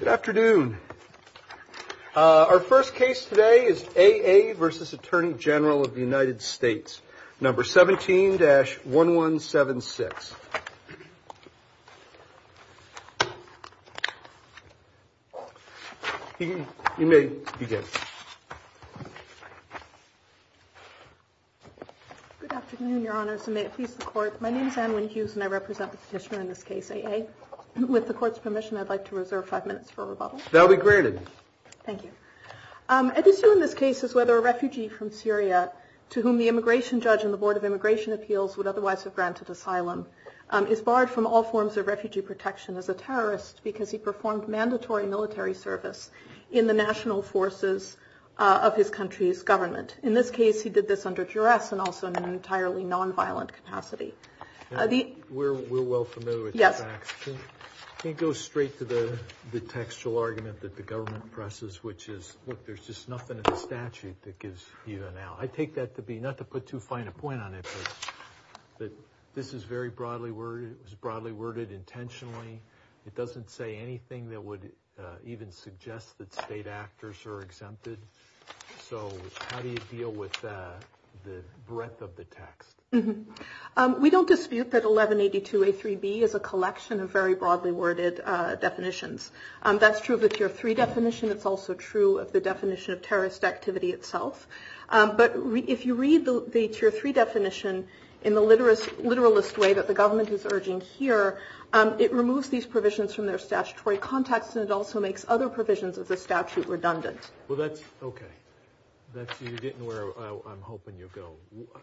Good afternoon. Our first case today is A.A. v. Attorney General of the United States, number 17-1176. You may begin. Good afternoon, Your Honors, and may it please the Court. My name is Anne Wynn Hughes, and I represent the petitioner in this case, A.A., and with the Court's permission, I'd like to reserve five minutes for rebuttal. That will be granted. Thank you. I'd assume in this case is whether a refugee from Syria to whom the immigration judge and the Board of Immigration Appeals would otherwise have granted asylum is barred from all forms of refugee protection as a terrorist because he performed mandatory military service in the national forces of his country's government. In this case, he did this under duress and also in an entirely nonviolent capacity. We're well familiar with the facts. Can you go straight to the textual argument that the government presses, which is, look, there's just nothing in the statute that gives you an out. I take that to be, not to put too fine a point on it, but this is very broadly worded. It was broadly worded intentionally. It doesn't say anything that would even suggest that state actors are exempted. So how do you deal with the breadth of the text? We don't dispute that 1182A3B is a collection of very broadly worded definitions. That's true of the Tier 3 definition. It's also true of the definition of terrorist activity itself. But if you read the Tier 3 definition in the literalist way that the government is urging here, it removes these provisions from their statutory context, and it also makes other provisions of the statute redundant. Well, that's okay. You're getting where I'm hoping you'll go.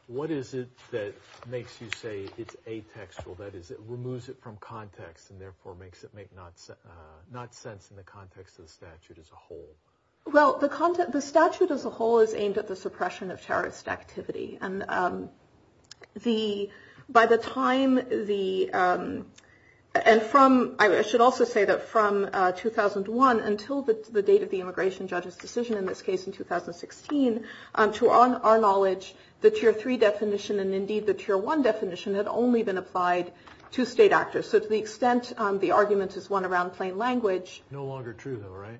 What is it that makes you say it's atextual, that is, it removes it from context and therefore makes it make not sense in the context of the statute as a whole? Well, the statute as a whole is aimed at the suppression of terrorist activity. And by the time the – and from – I should also say that from 2001 until the date of the immigration judge's decision, in this case in 2016, to our knowledge, the Tier 3 definition and indeed the Tier 1 definition had only been applied to state actors. So to the extent the argument is one around plain language. No longer true, though, right?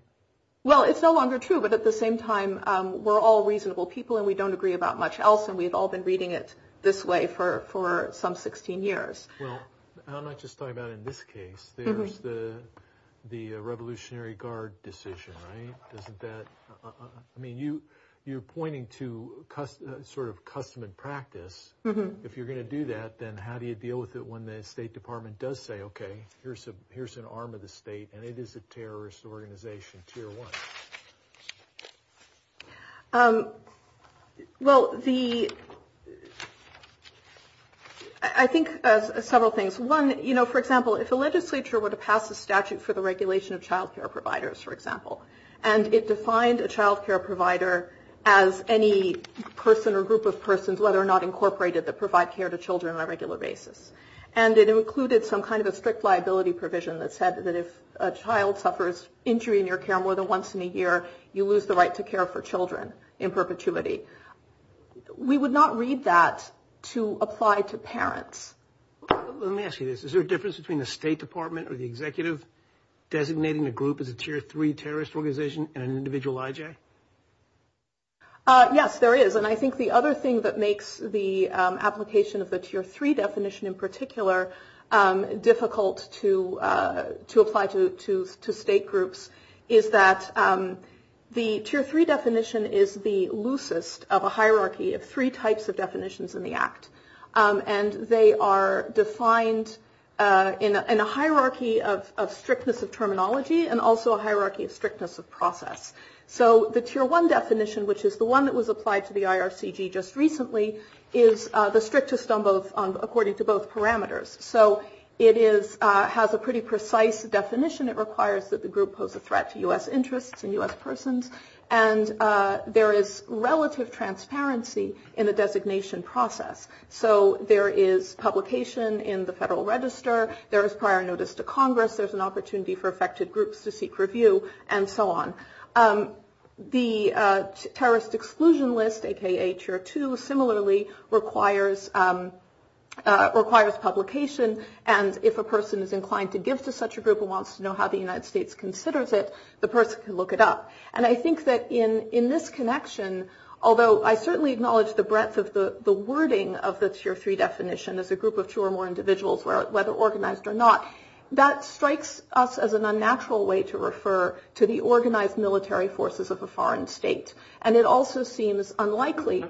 Well, it's no longer true, but at the same time, we're all reasonable people and we don't agree about much else and we've all been reading it this way for some 16 years. Well, I'm not just talking about in this case. There's the Revolutionary Guard decision, right? Isn't that – I mean, you're pointing to sort of custom and practice. If you're going to do that, then how do you deal with it when the State Department does say, okay, here's an arm of the state and it is a terrorist organization, Tier 1? Well, the – I think several things. One, you know, for example, if a legislature were to pass a statute for the regulation of child care providers, for example, and it defined a child care provider as any person or group of persons, whether or not incorporated, that provide care to children on a regular basis. And it included some kind of a strict liability provision that said that if a child suffers injury in your care more than once in a year, you lose the right to care for children in perpetuity. We would not read that to apply to parents. Let me ask you this. Is there a difference between the State Department or the executive designating a group as a Tier 3 terrorist organization and an individual IJ? Yes, there is. And I think the other thing that makes the application of the Tier 3 definition in particular difficult to apply to state groups is that the Tier 3 definition is the loosest of a hierarchy of three types of definitions in the Act. And they are defined in a hierarchy of strictness of terminology and also a hierarchy of strictness of process. So the Tier 1 definition, which is the one that was applied to the IRCG just recently, is the strictest on both according to both parameters. So it has a pretty precise definition. It requires that the group pose a threat to U.S. interests and U.S. persons. And there is relative transparency in the designation process. So there is publication in the Federal Register. There is prior notice to Congress. There's an opportunity for affected groups to seek review and so on. The terrorist exclusion list, a.k.a. Tier 2, similarly requires publication. And if a person is inclined to give to such a group and wants to know how the United States considers it, the person can look it up. And I think that in this connection, although I certainly acknowledge the breadth of the wording of the Tier 3 definition as a group of two or more individuals, whether organized or not, that strikes us as an unnatural way to refer to the organized military forces of a foreign state. And it also seems unlikely.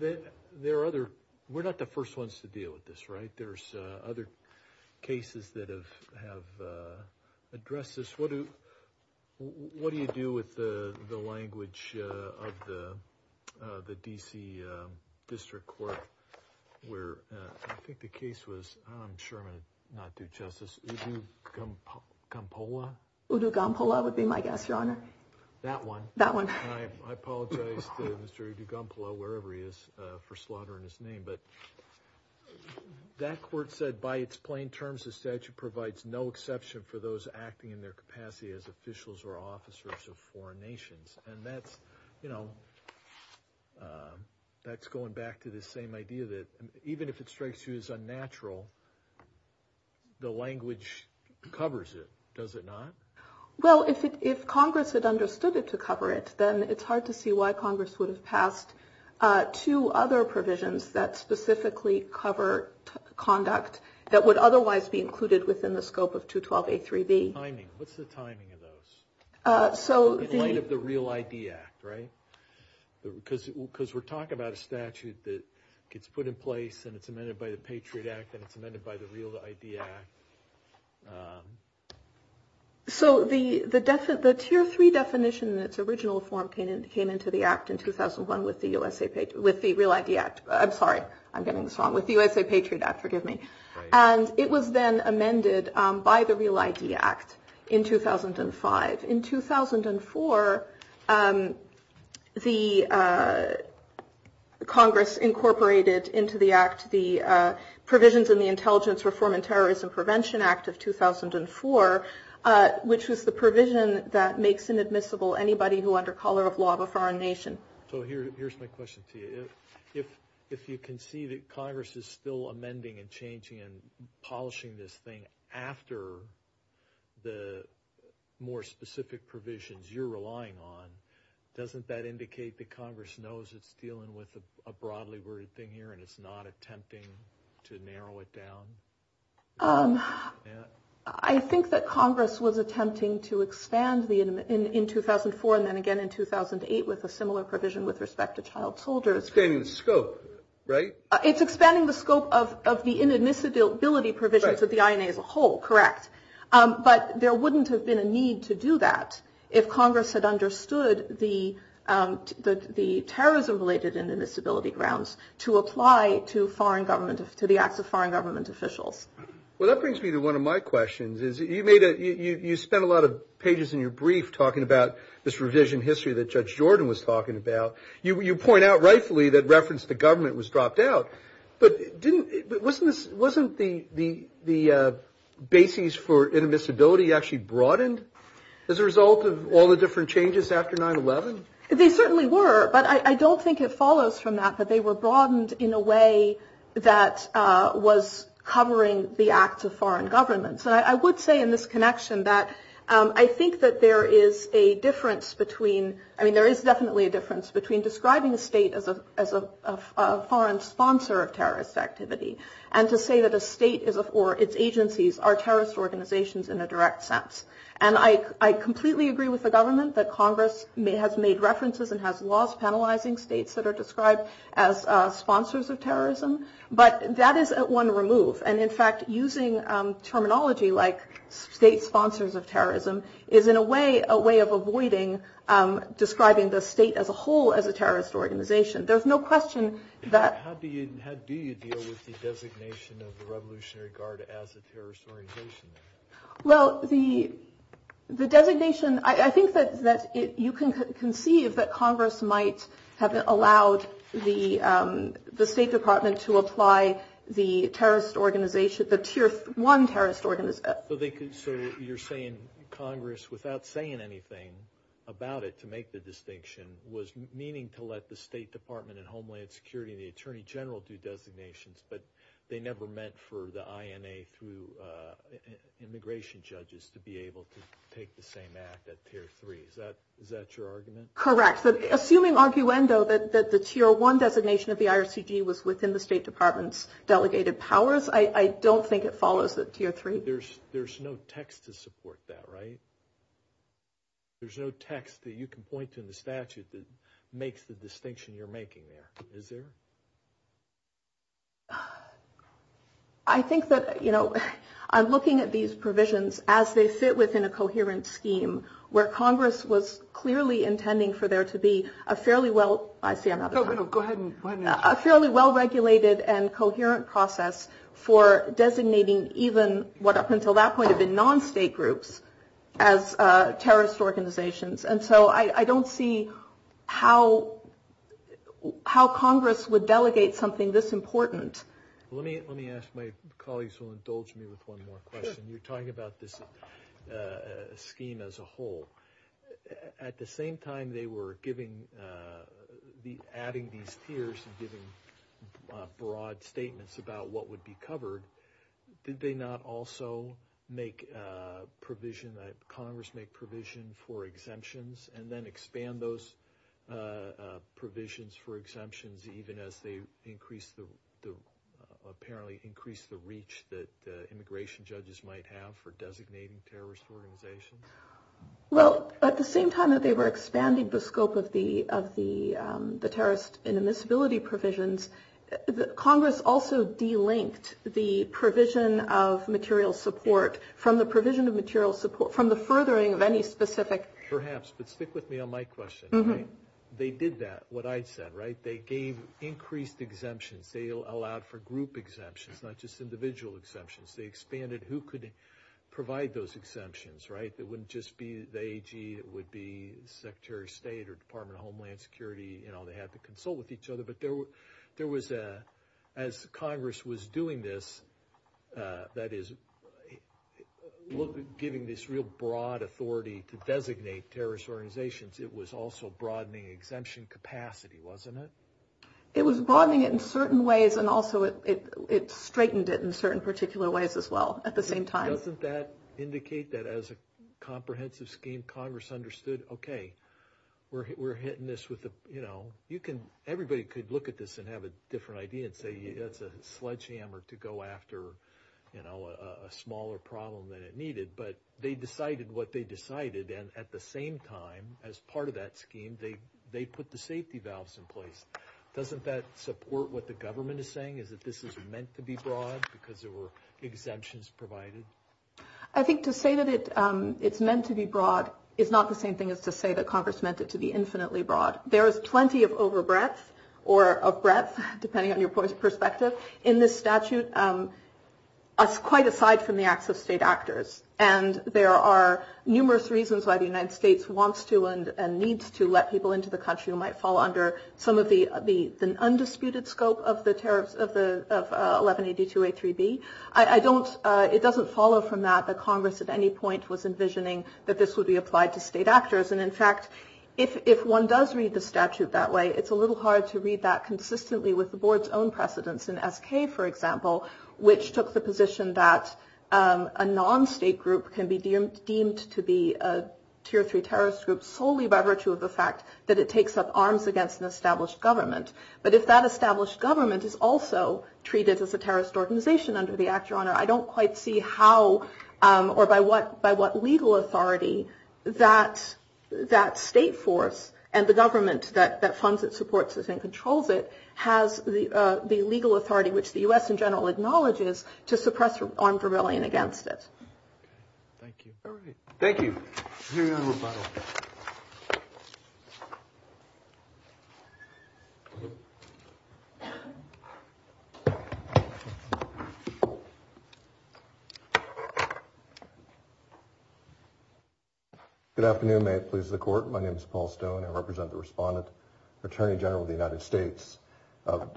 We're not the first ones to deal with this, right? There's other cases that have addressed this. What do you do with the language of the D.C. District Court where I think the case was, I'm sure I'm going to not do justice, Udugampola? Udugampola would be my guess, Your Honor. That one? That one. I apologize to Mr. Udugampola, wherever he is, for slaughtering his name. But that court said, by its plain terms, the statute provides no exception for those acting in their capacity as officials or officers of foreign nations. And that's, you know, that's going back to this same idea that even if it strikes you as unnatural, the language covers it. Does it not? Well, if Congress had understood it to cover it, then it's hard to see why Congress would have passed two other provisions that specifically cover conduct that would otherwise be included within the scope of 212A3B. Timing. What's the timing of those? In light of the Real ID Act, right? Because we're talking about a statute that gets put in place and it's amended by the Patriot Act and it's amended by the Real ID Act. So the Tier 3 definition in its original form came into the Act in 2001 with the Real ID Act. I'm sorry. I'm getting this wrong. With the USA Patriot Act. Forgive me. And it was then amended by the Real ID Act in 2005. In 2004, the Congress incorporated into the Act the provisions in the Intelligence Reform and Terrorism Prevention Act of 2004, which was the provision that makes inadmissible anybody who under collar of law of a foreign nation. So here's my question to you. If you can see that Congress is still amending and changing and polishing this thing after the more specific provisions you're relying on, doesn't that indicate that Congress knows it's dealing with a broadly worded thing here and it's not attempting to narrow it down? I think that Congress was attempting to expand in 2004 and then again in 2008 with a similar provision with respect to child soldiers. Expanding the scope, right? It's expanding the scope of the inadmissibility provisions of the INA as a whole, correct. But there wouldn't have been a need to do that if Congress had understood the terrorism related inadmissibility grounds to apply to the acts of foreign government officials. Well, that brings me to one of my questions. You spent a lot of pages in your brief talking about this revision history that Judge Jordan was talking about. You point out rightfully that reference to government was dropped out. But wasn't the basis for inadmissibility actually broadened as a result of all the different changes after 9-11? They certainly were. But I don't think it follows from that that they were broadened in a way that was covering the acts of foreign governments. And I would say in this connection that I think that there is a difference between – I mean there is definitely a difference between describing a state as a foreign sponsor of terrorist activity and to say that a state or its agencies are terrorist organizations in a direct sense. And I completely agree with the government that Congress has made references and has laws penalizing states that are described as sponsors of terrorism. But that is one remove. And in fact, using terminology like state sponsors of terrorism is in a way a way of avoiding describing the state as a whole as a terrorist organization. There's no question that – How do you deal with the designation of the Revolutionary Guard as a terrorist organization? Well, the designation – I think that you can conceive that Congress might have allowed the State Department to apply the terrorist organization – the Tier 1 terrorist organization. So you're saying Congress, without saying anything about it to make the distinction, was meaning to let the State Department and Homeland Security and the Attorney General do designations, but they never meant for the INA through immigration judges to be able to take the same act at Tier 3. Is that your argument? Correct. But assuming arguendo that the Tier 1 designation of the IRCG was within the State Department's delegated powers, I don't think it follows that Tier 3 – There's no text to support that, right? There's no text that you can point to in the statute that makes the distinction you're making there. Is there? I think that, you know, I'm looking at these provisions as they fit within a coherent scheme, where Congress was clearly intending for there to be a fairly well – I see I'm out of time. No, go ahead. A fairly well-regulated and coherent process for designating even what up until that point have been non-state groups as terrorist organizations. And so I don't see how Congress would delegate something this important. Let me ask – my colleagues will indulge me with one more question. Sure. You're talking about this scheme as a whole. At the same time they were giving – adding these tiers and giving broad statements about what would be covered, did they not also make provision – Congress make provision for exemptions and then expand those provisions for exemptions even as they increase the – apparently increase the reach that immigration judges might have for designating terrorist organizations? Well, at the same time that they were expanding the scope of the terrorist and immiscibility provisions, Congress also delinked the provision of material support from the provision of material support from the furthering of any specific – Perhaps, but stick with me on my question. They did that, what I said, right? They gave increased exemptions. They allowed for group exemptions, not just individual exemptions. They expanded who could provide those exemptions, right? It wouldn't just be the AG. It would be Secretary of State or Department of Homeland Security. They had to consult with each other. But there was – as Congress was doing this, that is, giving this real broad authority to designate terrorist organizations, it was also broadening exemption capacity, wasn't it? It was broadening it in certain ways and also it straightened it in certain particular ways as well at the same time. Doesn't that indicate that as a comprehensive scheme Congress understood, okay, we're hitting this with the – you can – everybody could look at this and have a different idea and say it's a sledgehammer to go after a smaller problem than it needed, but they decided what they decided. And at the same time, as part of that scheme, they put the safety valves in place. Doesn't that support what the government is saying, is that this is meant to be broad because there were exemptions provided? I think to say that it's meant to be broad is not the same thing as to say that Congress meant it to be infinitely broad. There is plenty of over breadth or of breadth, depending on your perspective, in this statute, quite aside from the acts of state actors. And there are numerous reasons why the United States wants to and needs to let people into the country who might fall under some of the undisputed scope of the tariffs of 1182A3B. I don't – it doesn't follow from that that Congress at any point was envisioning that this would be applied to state actors. And, in fact, if one does read the statute that way, it's a little hard to read that consistently with the board's own precedence in SK, for example, which took the position that a non-state group can be deemed to be a tier three terrorist group solely by virtue of the fact that it takes up arms against an established government. But if that established government is also treated as a terrorist organization under the Act, Your Honor, I don't quite see how or by what legal authority that state force and the government that funds it, supports it, and controls it has the legal authority, which the U.S. in general acknowledges, to suppress armed rebellion against it. Thank you. Thank you, Your Honor. Good afternoon. May it please the Court. My name is Paul Stone. I represent the Respondent, Attorney General of the United States.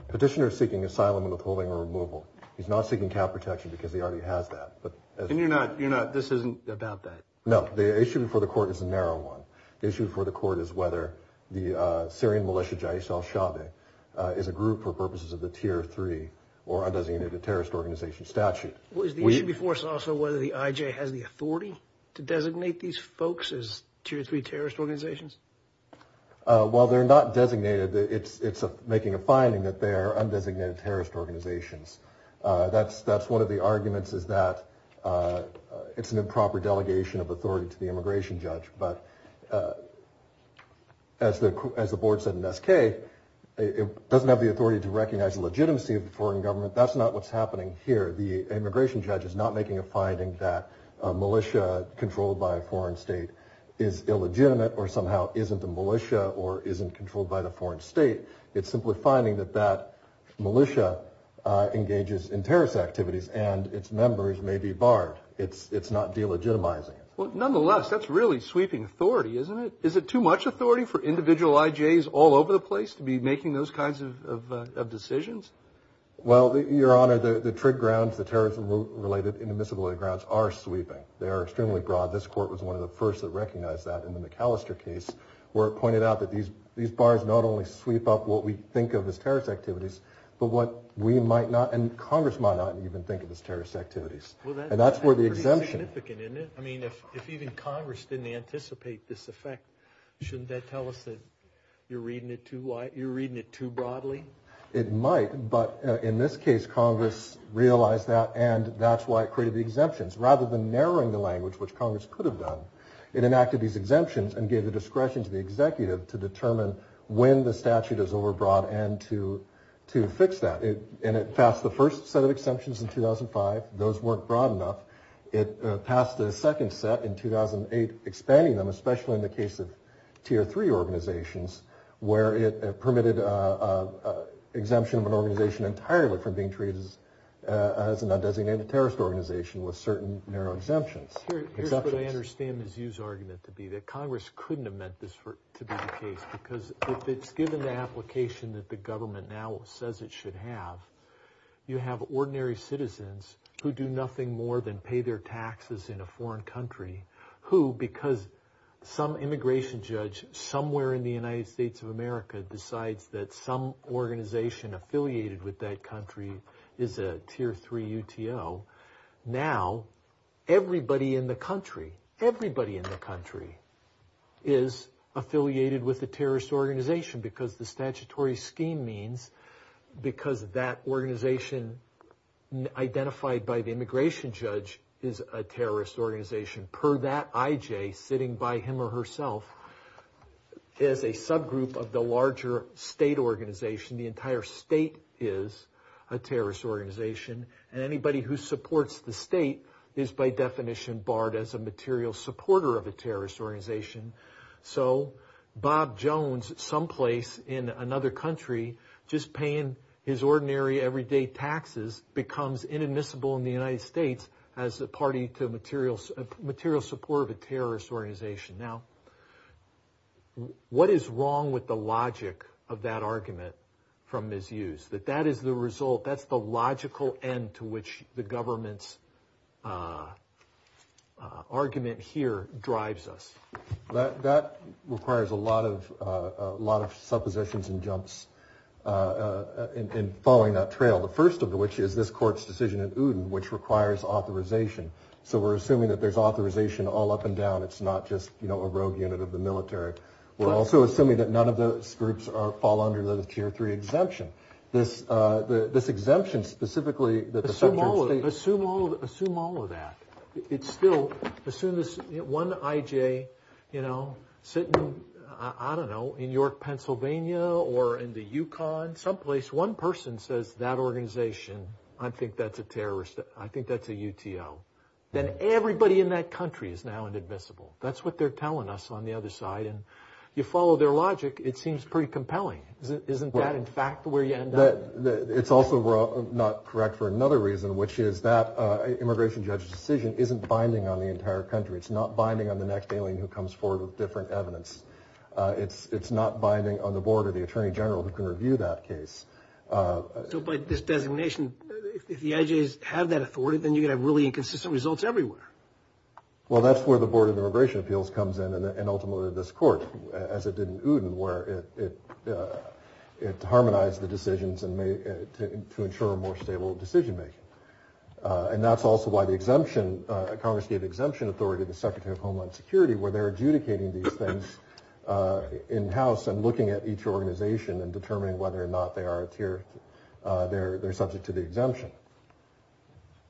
Petitioner is seeking asylum withholding or removal. He's not seeking cap protection because he already has that. And you're not – this isn't about that? No. The issue before the Court is a narrow one. The issue before the Court is whether the Syrian militia Jais al-Shaabi is a group for purposes of the tier three or undesignated terrorist organization statute. Well, is the issue before us also whether the IJ has the authority to designate these folks as tier three terrorist organizations? While they're not designated, it's making a finding that they are undesignated terrorist organizations. That's one of the arguments is that it's an improper delegation of authority to the immigration judge. But as the Board said in SK, it doesn't have the authority to recognize the legitimacy of the foreign government. That's not what's happening here. The immigration judge is not making a finding that a militia controlled by a foreign state is illegitimate or somehow isn't a militia or isn't controlled by the foreign state. It's simply finding that that militia engages in terrorist activities and its members may be barred. It's not delegitimizing it. Well, nonetheless, that's really sweeping authority, isn't it? Is it too much authority for individual IJs all over the place to be making those kinds of decisions? Well, Your Honor, the trig grounds, the terrorism-related inadmissibility grounds are sweeping. They are extremely broad. This Court was one of the first that recognized that in the McAllister case where it pointed out that these bars not only sweep up what we think of as terrorist activities, but what we might not and Congress might not even think of as terrorist activities. And that's where the exemption. Well, that's pretty significant, isn't it? I mean, if even Congress didn't anticipate this effect, shouldn't that tell us that you're reading it too broadly? It might, but in this case, Congress realized that, and that's why it created the exemptions. Rather than narrowing the language, which Congress could have done, it enacted these exemptions and gave the discretion to the executive to determine when the statute is overbroad and to fix that. And it passed the first set of exemptions in 2005. Those weren't broad enough. It passed the second set in 2008, expanding them, especially in the case of Tier 3 organizations, where it permitted exemption of an organization entirely from being treated as an undesignated terrorist organization with certain narrow exemptions. Here's what I understand Mizzou's argument to be, that Congress couldn't have meant this to be the case, because if it's given the application that the government now says it should have, you have ordinary citizens who do nothing more than pay their taxes in a foreign country who, because some immigration judge somewhere in the United States of America decides that some organization affiliated with that country is a Tier 3 UTO. Now, everybody in the country, everybody in the country is affiliated with a terrorist organization because the statutory scheme means, because that organization identified by the immigration judge is a terrorist organization. Per that, IJ, sitting by him or herself, is a subgroup of the larger state organization. The entire state is a terrorist organization, and anybody who supports the state is by definition barred as a material supporter of a terrorist organization. So Bob Jones, someplace in another country, just paying his ordinary everyday taxes becomes inadmissible in the United States as a party to material support of a terrorist organization. Now, what is wrong with the logic of that argument from Ms. Hughes, that that is the result, that's the logical end to which the government's argument here drives us? That requires a lot of suppositions and jumps in following that trail. The first of which is this court's decision in Uden, which requires authorization. So we're assuming that there's authorization all up and down. It's not just a rogue unit of the military. We're also assuming that none of those groups fall under the Tier 3 exemption. This exemption specifically that the subterranean state... Assume all of that. It's still, as soon as one IJ, you know, sitting, I don't know, in York, Pennsylvania, or in the Yukon, someplace one person says that organization, I think that's a terrorist, I think that's a UTO. Then everybody in that country is now inadmissible. That's what they're telling us on the other side. And you follow their logic, it seems pretty compelling. Isn't that, in fact, where you end up? It's also not correct for another reason, which is that immigration judge's decision isn't binding on the entire country. It's not binding on the next alien who comes forward with different evidence. It's not binding on the board of the attorney general who can review that case. So by this designation, if the IJs have that authority, then you're going to have really inconsistent results everywhere. Well, that's where the Board of Immigration Appeals comes in, and ultimately this court, as it did in Uden, where it harmonized the decisions to ensure a more stable decision-making. And that's also why the exemption, Congress gave exemption authority to the Secretary of Homeland Security, where they're adjudicating these things in-house and looking at each organization and determining whether or not they're subject to the exemption.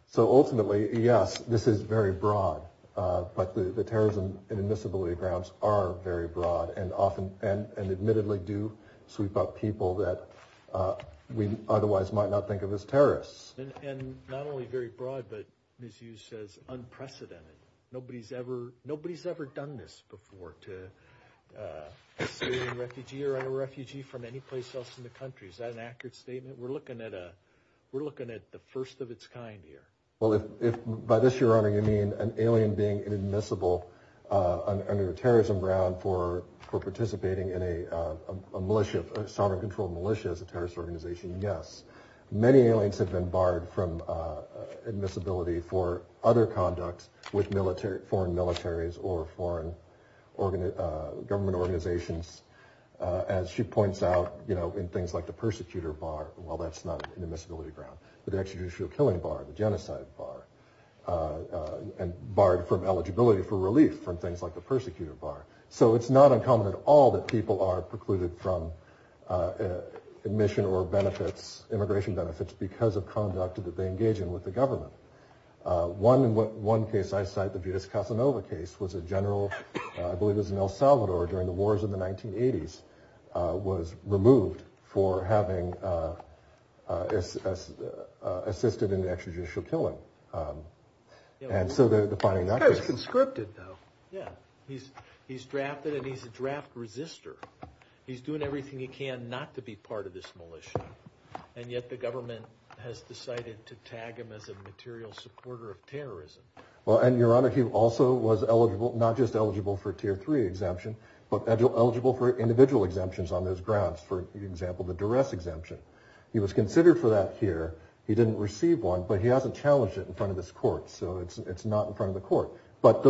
So ultimately, yes, this is very broad, but the terrorism and admissibility grounds are very broad and admittedly do sweep up people that we otherwise might not think of as terrorists. And not only very broad, but, as you said, unprecedented. Nobody's ever done this before, to a civilian refugee or a refugee from anyplace else in the country. Is that an accurate statement? We're looking at the first of its kind here. Well, if by this, Your Honor, you mean an alien being admissible under a terrorism ground for participating in a militia, a sovereign-controlled militia as a terrorist organization, yes. Many aliens have been barred from admissibility for other conduct with foreign militaries or foreign government organizations. As she points out, you know, in things like the persecutor bar, well, that's not an admissibility ground, but the extrajudicial killing bar, the genocide bar, and barred from eligibility for relief from things like the persecutor bar. So it's not uncommon at all that people are precluded from admission or benefits, immigration benefits, because of conduct that they engage in with the government. One case I cite, the Budis-Casanova case, was a general, I believe it was in El Salvador during the wars in the 1980s, was removed for having assisted in the extrajudicial killing. The guy was conscripted, though. Yeah, he's drafted and he's a draft resister. He's doing everything he can not to be part of this militia, and yet the government has decided to tag him as a material supporter of terrorism. Well, and Your Honor, he also was eligible, not just eligible for Tier 3 exemption, but eligible for individual exemptions on those grounds, for example, the duress exemption. He was considered for that here. He didn't receive one, but he hasn't challenged it in front of this court, so it's not in front of the court. But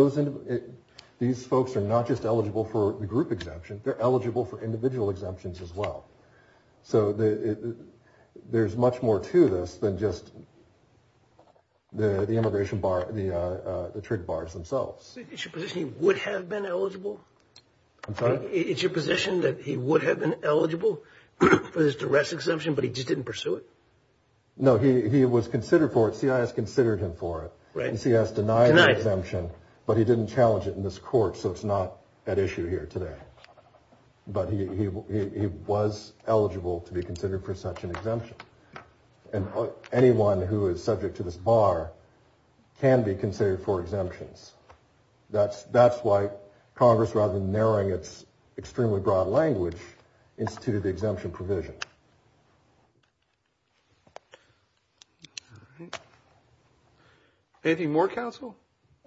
these folks are not just eligible for the group exemption. They're eligible for individual exemptions as well. So there's much more to this than just the immigration bar, the trade bars themselves. I'm sorry? No, he was considered for it. See, I has considered him for it. He has denied exemption, but he didn't challenge it in this court. So it's not at issue here today. But he was eligible to be considered for such an exemption. And anyone who is subject to this bar can be considered for exemptions. That's why Congress, rather than narrowing its extremely broad language, instituted the exemption provision. Anything more, Counsel?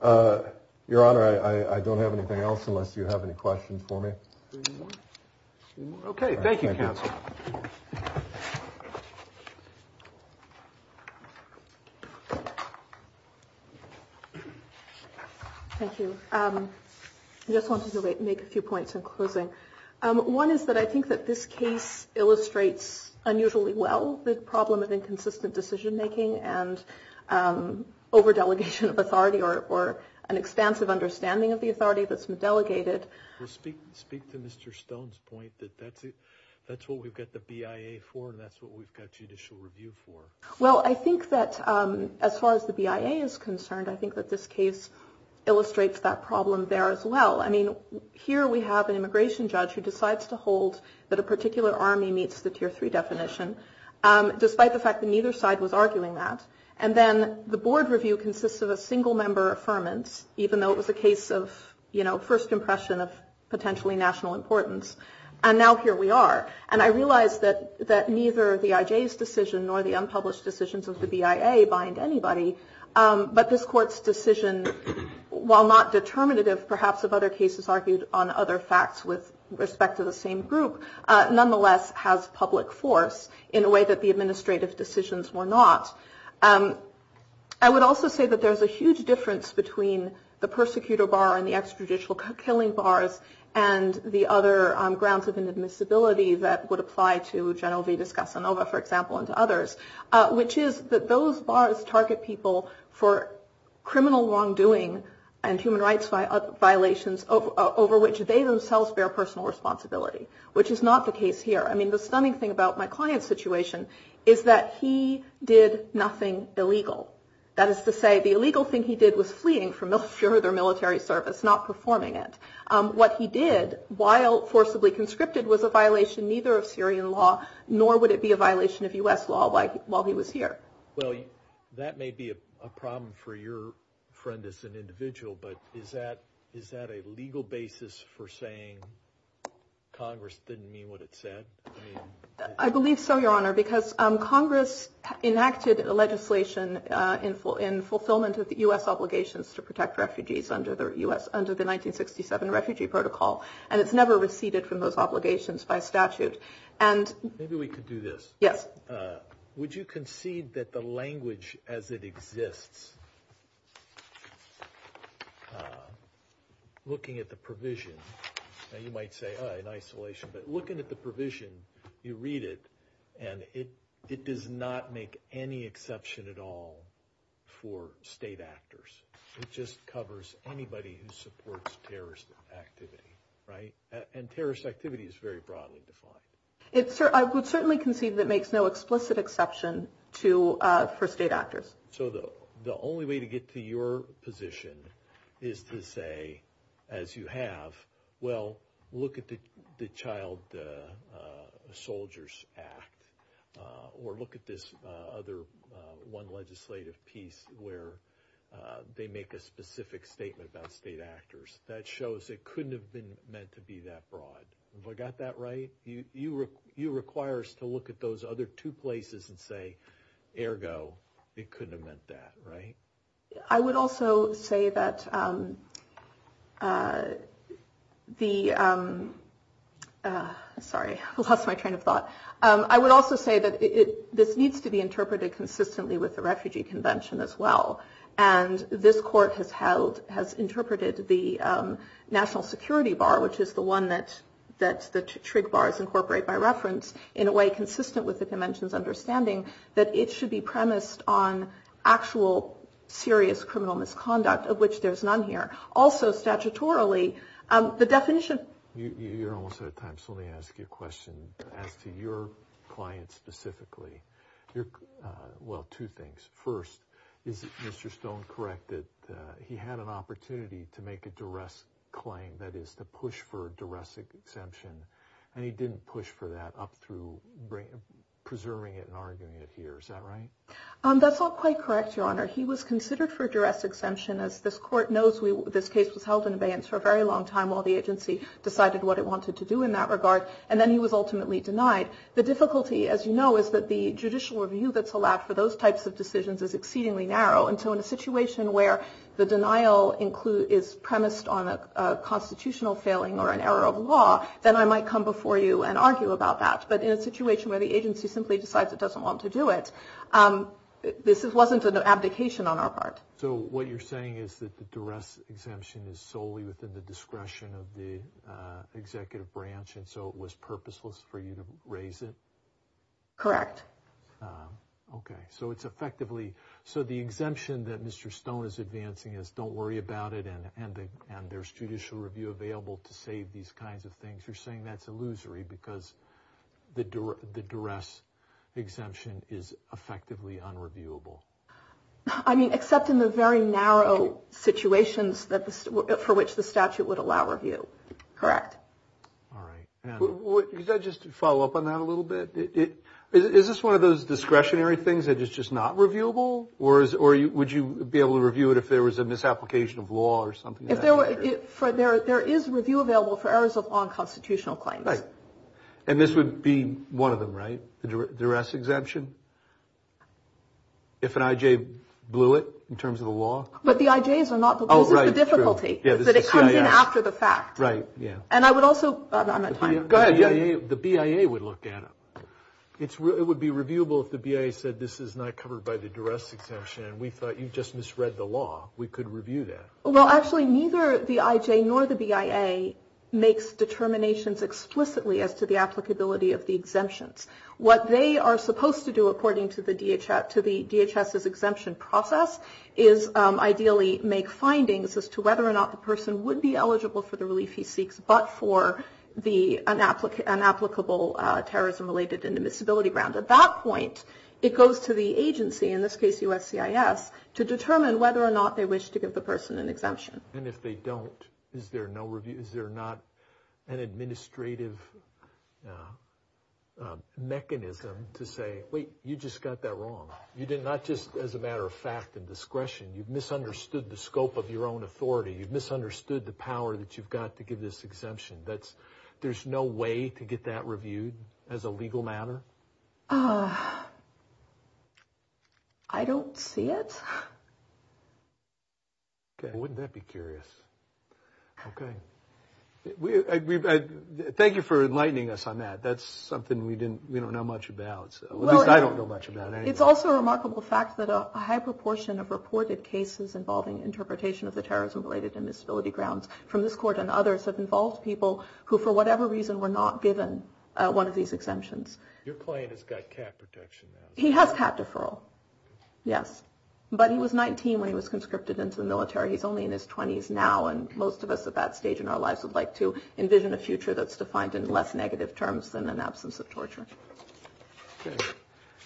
Your Honor, I don't have anything else unless you have any questions for me. Okay, thank you, Counsel. Thank you. I just wanted to make a few points in closing. One is that I think that this case illustrates unusually well the problem of inconsistent decision-making and over-delegation of authority or an expansive understanding of the authority that's been delegated. Well, speak to Mr. Stone's point that that's what we've got the BIA for and that's what we've got judicial review for. Well, I think that as far as the BIA is concerned, I think that this case illustrates that problem there as well. I mean, here we have an immigration judge who decides to hold that a particular army meets the Tier 3 definition, despite the fact that neither side was arguing that. And then the board review consists of a single-member affirmance, even though it was a case of, you know, first impression of potentially national importance. And now here we are. And I realize that neither the IJ's decision nor the unpublished decisions of the BIA bind anybody, but this Court's decision, while not determinative perhaps of other cases argued on other facts with respect to the same group, nonetheless has public force in a way that the administrative decisions were not. I would also say that there's a huge difference between the persecutor bar and the extrajudicial killing bars and the other grounds of inadmissibility that would apply to General Vidas Casanova, for example, and to others, which is that those bars target people for criminal wrongdoing and human rights violations over which they themselves bear personal responsibility, which is not the case here. I mean, the stunning thing about my client's situation is that he did nothing illegal. That is to say, the illegal thing he did was fleeing for military service, not performing it. What he did, while forcibly conscripted, was a violation neither of Syrian law, nor would it be a violation of U.S. law while he was here. Well, that may be a problem for your friend as an individual, but is that a legal basis for saying Congress didn't mean what it said? I believe so, Your Honor, because Congress enacted legislation in fulfillment of U.S. obligations to protect refugees under the 1967 Refugee Protocol, and it's never receded from those obligations by statute. Maybe we could do this. Yes. Would you concede that the language as it exists, looking at the provision, and you might say, oh, in isolation, but looking at the provision, you read it, and it does not make any exception at all for state actors. It just covers anybody who supports terrorist activity, right? And terrorist activity is very broadly defined. I would certainly concede that it makes no explicit exception for state actors. So the only way to get to your position is to say, as you have, well, look at the Child Soldiers Act, or look at this other one legislative piece where they make a specific statement about state actors. That shows it couldn't have been meant to be that broad. Have I got that right? You require us to look at those other two places and say, ergo, it couldn't have meant that, right? I would also say that the – sorry, I lost my train of thought. I would also say that this needs to be interpreted consistently with the Refugee Convention as well, and this Court has held – has interpreted the National Security Bar, which is the one that the TRIG Bars incorporate by reference, in a way consistent with the Convention's understanding that it should be premised on actual, serious criminal misconduct, of which there's none here. Also, statutorily, the definition – You're almost out of time, so let me ask you a question as to your client specifically. Well, two things. First, is Mr. Stone correct that he had an opportunity to make a duress claim, that is, to push for a duress exemption, and he didn't push for that up through preserving it and arguing it here. Is that right? That's not quite correct, Your Honor. He was considered for a duress exemption. As this Court knows, this case was held in abeyance for a very long time while the agency decided what it wanted to do in that regard, and then he was ultimately denied. The difficulty, as you know, is that the judicial review that's allowed for those types of decisions is exceedingly narrow, and so in a situation where the denial is premised on a constitutional failing or an error of law, then I might come before you and argue about that. But in a situation where the agency simply decides it doesn't want to do it, this wasn't an abdication on our part. So what you're saying is that the duress exemption is solely within the discretion of the executive branch, and so it was purposeless for you to raise it? Correct. Okay. So the exemption that Mr. Stone is advancing is don't worry about it and there's judicial review available to save these kinds of things. You're saying that's illusory because the duress exemption is effectively unreviewable. I mean, except in the very narrow situations for which the statute would allow review. Correct. All right. Can I just follow up on that a little bit? Is this one of those discretionary things that is just not reviewable, or would you be able to review it if there was a misapplication of law or something? There is review available for errors of law and constitutional claims. Right. And this would be one of them, right, the duress exemption? If an IJ blew it in terms of the law? But the IJs are not. Oh, right. This is the difficulty, that it comes in after the fact. Right, yeah. And I would also – I'm out of time. Go ahead. The BIA would look at it. It would be reviewable if the BIA said this is not covered by the duress exemption and we thought you just misread the law. We could review that. Well, actually, neither the IJ nor the BIA makes determinations explicitly as to the applicability of the exemptions. What they are supposed to do, according to the DHS's exemption process, is ideally make findings as to whether or not the person would be eligible for the relief he seeks but for the inapplicable terrorism-related inadmissibility ground. At that point, it goes to the agency, in this case USCIS, to determine whether or not they wish to give the person an exemption. And if they don't, is there no review? Is there not an administrative mechanism to say, wait, you just got that wrong. You did not just, as a matter of fact and discretion, you've misunderstood the scope of your own authority. You've misunderstood the power that you've got to give this exemption. There's no way to get that reviewed as a legal matter? I don't see it. Okay. Well, wouldn't that be curious? Okay. Thank you for enlightening us on that. That's something we don't know much about. At least I don't know much about it. It's also a remarkable fact that a high proportion of reported cases involving interpretation of the terrorism-related inadmissibility grounds from this court and others have involved people who, for whatever reason, were not given one of these exemptions. Your client has got cat protection now. He has cat deferral, yes. But he was 19 when he was conscripted into the military. He's only in his 20s now, and most of us at that stage in our lives would like to envision a future that's defined in less negative terms than an absence of torture.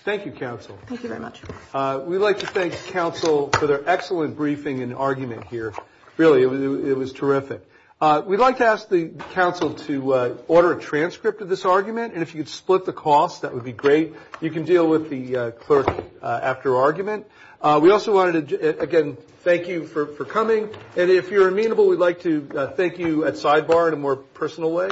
Thank you, counsel. Thank you very much. We'd like to thank counsel for their excellent briefing and argument here. Really, it was terrific. We'd like to ask the counsel to order a transcript of this argument, and if you could split the cost, that would be great. You can deal with the clerk after argument. We also wanted to, again, thank you for coming. And if you're amenable, we'd like to thank you at sidebar in a more personal way.